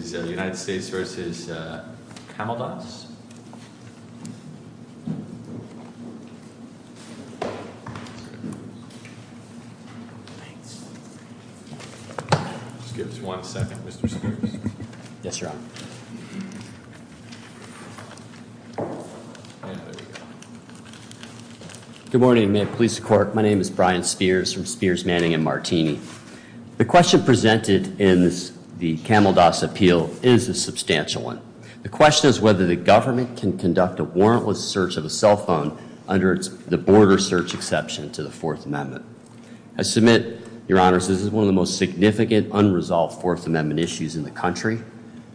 Good morning. My name is Brian Spears from Spears, Manning & Martini. The question presented in the Kamaldoss appeal is a substantial one. The question is whether the government can conduct a warrantless search of a cell phone under the border search exception to the Fourth Amendment. I submit, your honors, this is one of the most significant unresolved Fourth Amendment issues in the country.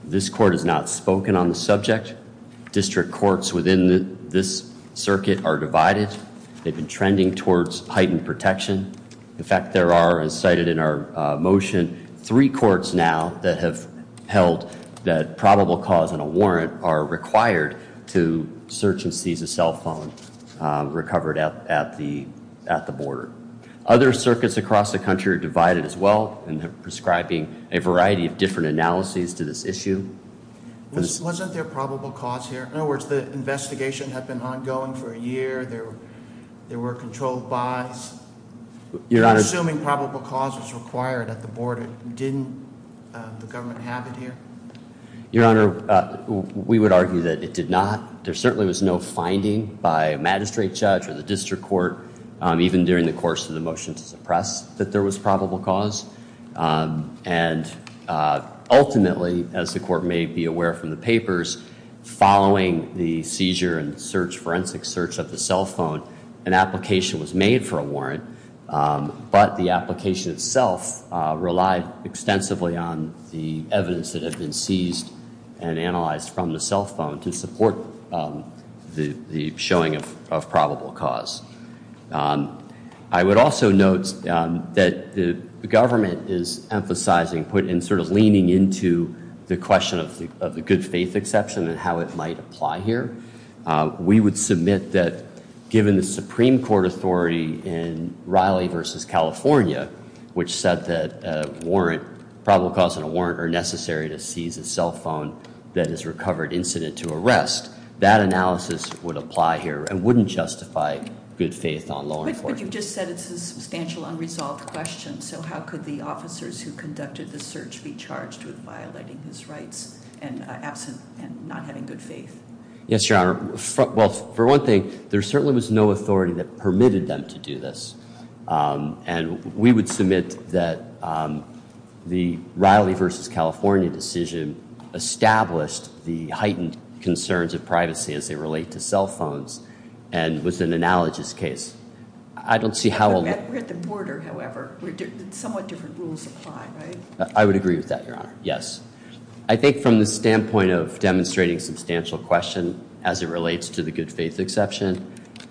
This court has not spoken on the subject. District courts within this circuit are divided. They've been trending towards heightened protection. In fact, there are, as cited in our motion, three courts now that have held that probable cause and a warrant are required to search and seize a cell phone recovered at the border. Other circuits across the country are divided as well and are prescribing a variety of different analyses to this issue. Wasn't there probable cause here? In other words, the investigation had been ongoing for a year. There were controlled buys. You're assuming probable cause was required at the border. Didn't the government have it here? Your honor, we would argue that it did not. There certainly was no finding by a magistrate judge or the district court even during the course of the motion to suppress that there was probable cause. And ultimately, as the court may be aware from the papers, following the seizure and forensic search of the cell phone, an application was made for a warrant. But the application itself relied extensively on the evidence that had been seized and analyzed from the cell phone to support the showing of probable cause. I would also note that the government is emphasizing and sort of leaning into the question of the good faith exception and how it might apply here. We would submit that given the Supreme Court authority in Raleigh versus California, which said that a warrant, probable cause and a warrant are necessary to seize a cell phone that is recovered incident to arrest, that analysis would apply here and wouldn't justify good faith on law enforcement. But you just said it's a substantial unresolved question. So how could the officers who conducted the search be charged with violating his rights and absent and not having good faith? Yes, Your Honor. Well, for one thing, there certainly was no authority that permitted them to do this. And we would submit that the Raleigh versus California decision established the heightened concerns of privacy as they relate to cell phones and was an analogous case. I don't see how— We're at the border, however. Somewhat different rules apply, right? I would agree with that, Your Honor. Yes. I think from the standpoint of demonstrating substantial question as it relates to the good faith exception,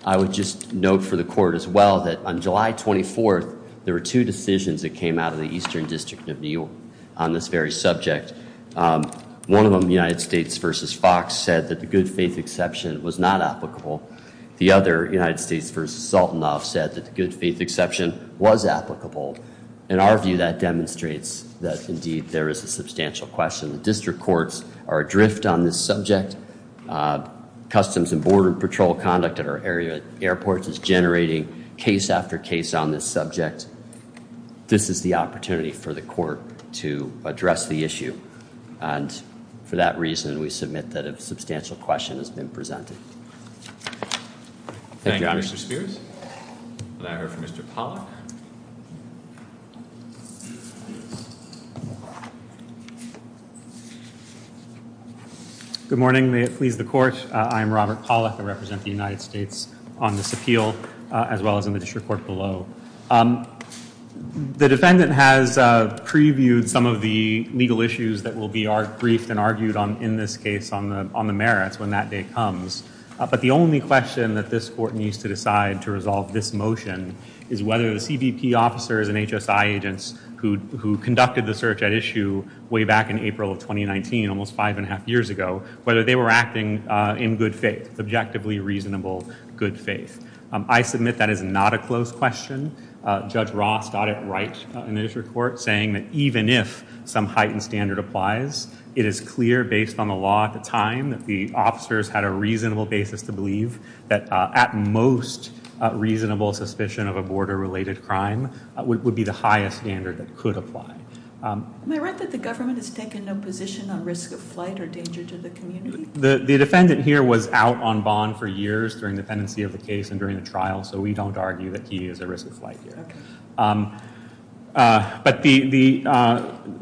I would just note for the court as well that on July 24th, there were two decisions that came out of the Eastern District of New York on this very subject. One of them, United States versus Fox, said that the good faith exception was not applicable. The other, United States versus Sultanoff, said that the good faith exception was applicable. In our view, that demonstrates that indeed there is a substantial question. The district courts are adrift on this subject. Customs and Border Patrol conduct at our area airports is generating case after case on this subject. This is the opportunity for the court to address the issue. And for that reason, we submit that a substantial question has been presented. Thank you, Your Honor. Thank you, Mr. Spears. May I hear from Mr. Pollack? Good morning. May it please the court. I am Robert Pollack. I represent the United States on this appeal as well as in the district court below. The defendant has previewed some of the legal issues that will be briefed and argued on in this case on the merits when that day comes. But the only question that this court needs to decide to resolve this motion is whether the CBP officers and HSI agents who conducted the search at issue way back in April of 2019, almost five and a half years ago, whether they were acting in good faith, subjectively reasonable good faith. I submit that is not a close question. Judge Ross got it right in this report, saying that even if some heightened standard applies, it is clear based on the law at the time that the officers had a reasonable basis to believe that at most reasonable suspicion of a border related crime would be the highest standard that could apply. Am I right that the government has taken no position on risk of flight or danger to the community? The defendant here was out on bond for years during the pendency of the case and during the trial, so we don't argue that he is a risk of flight here. But the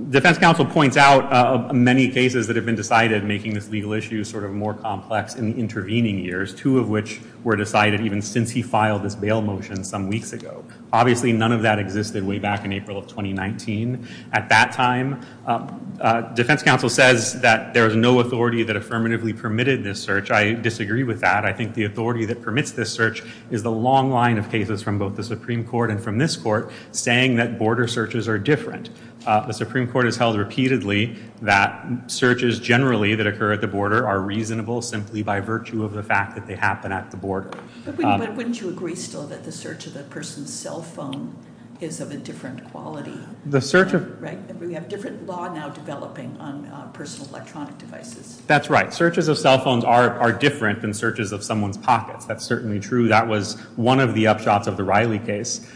defense counsel points out many cases that have been decided making this legal issue sort of more complex in the intervening years, two of which were decided even since he filed this bail motion some weeks ago. Obviously, none of that existed way back in April of 2019. At that time, defense counsel says that there is no authority that affirmatively permitted this search. I disagree with that. I think the authority that permits this search is the long line of cases from both the Supreme Court and from this court saying that border searches are different. The Supreme Court has held repeatedly that searches generally that occur at the border are reasonable simply by virtue of the fact that they happen at the border. But wouldn't you agree still that the search of that person's cell phone is of a different quality? We have different law now developing on personal electronic devices. That's right. Searches of cell phones are different than searches of someone's pockets. That's certainly true. That was one of the upshots of the Riley case.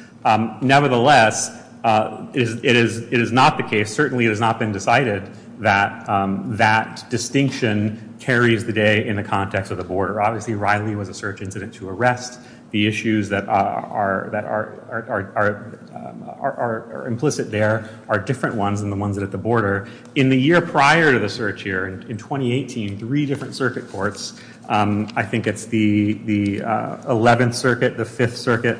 Nevertheless, it is not the case. Certainly, it has not been decided that that distinction carries the day in the context of the border. Obviously, Riley was a search incident to arrest. The issues that are implicit there are different ones than the ones at the border. In the year prior to the search here, in 2018, three different circuit courts, I think it's the 11th Circuit, the 5th Circuit,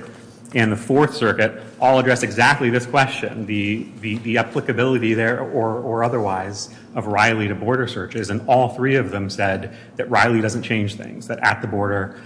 and the 4th Circuit, all addressed exactly this question, the applicability there or otherwise of Riley to border searches. And all three of them said that Riley doesn't change things, that at the border,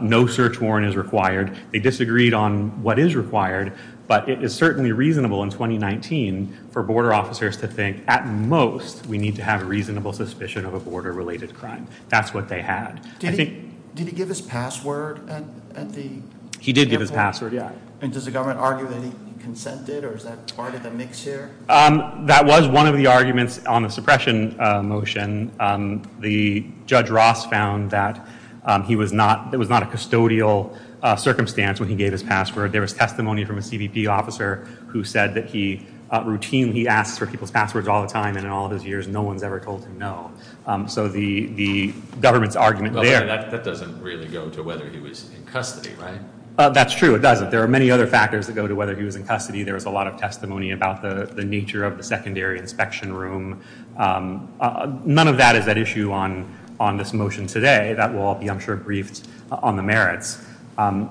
no search warrant is required. They disagreed on what is required, but it is certainly reasonable in 2019 for border officers to think, at most, we need to have a reasonable suspicion of a border-related crime. That's what they had. Did he give his password at the airport? He did give his password, yeah. And does the government argue that he consented or is that part of the mix here? That was one of the arguments on the suppression motion. The Judge Ross found that it was not a custodial circumstance when he gave his password. There was testimony from a CBP officer who said that he routinely asks for people's passwords all the time, and in all of his years, no one's ever told him no. So the government's argument there— That doesn't really go to whether he was in custody, right? That's true, it doesn't. There are many other factors that go to whether he was in custody. There was a lot of testimony about the nature of the secondary inspection room. None of that is at issue on this motion today. That will all be, I'm sure, briefed on the merits. Of all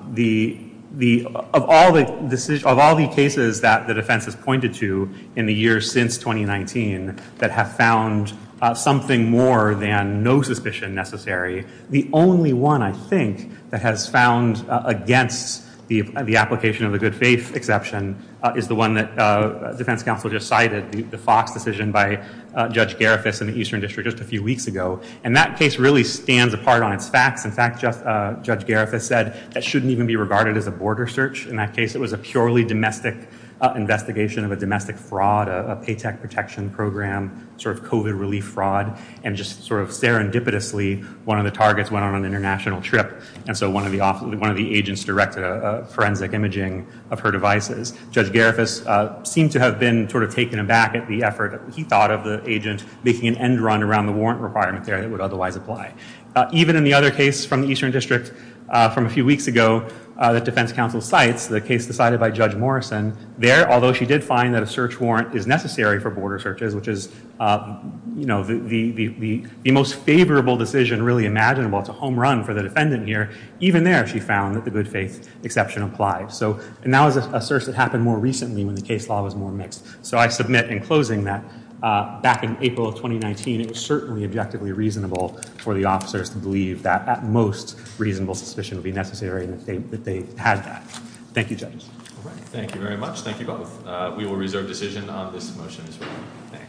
the cases that the defense has pointed to in the years since 2019 that have found something more than no suspicion necessary, the only one, I think, that has found against the application of the good faith exception is the one that the defense counsel just cited, the Fox decision by Judge Garifas in the Eastern District just a few weeks ago. And that case really stands apart on its facts. In fact, Judge Garifas said that shouldn't even be regarded as a border search. In that case, it was a purely domestic investigation of a domestic fraud, a paycheck protection program, sort of COVID relief fraud, and just sort of serendipitously one of the targets went on an international trip. And so one of the agents directed a forensic imaging of her devices. Judge Garifas seemed to have been sort of taken aback at the effort he thought of the agent making an end run around the warrant requirement there that would otherwise apply. Even in the other case from the Eastern District from a few weeks ago that defense counsel cites, the case decided by Judge Morrison, there, although she did find that a search warrant is necessary for border searches, which is the most favorable decision really imaginable to home run for the defendant here. Even there, she found that the good faith exception applied. And that was a search that happened more recently when the case law was more mixed. So I submit in closing that back in April of 2019, it was certainly objectively reasonable for the officers to believe that at most, reasonable suspicion would be necessary and that they had that. Thank you, Judge. Thank you very much. Thank you both. We will reserve decision on this motion. Thanks.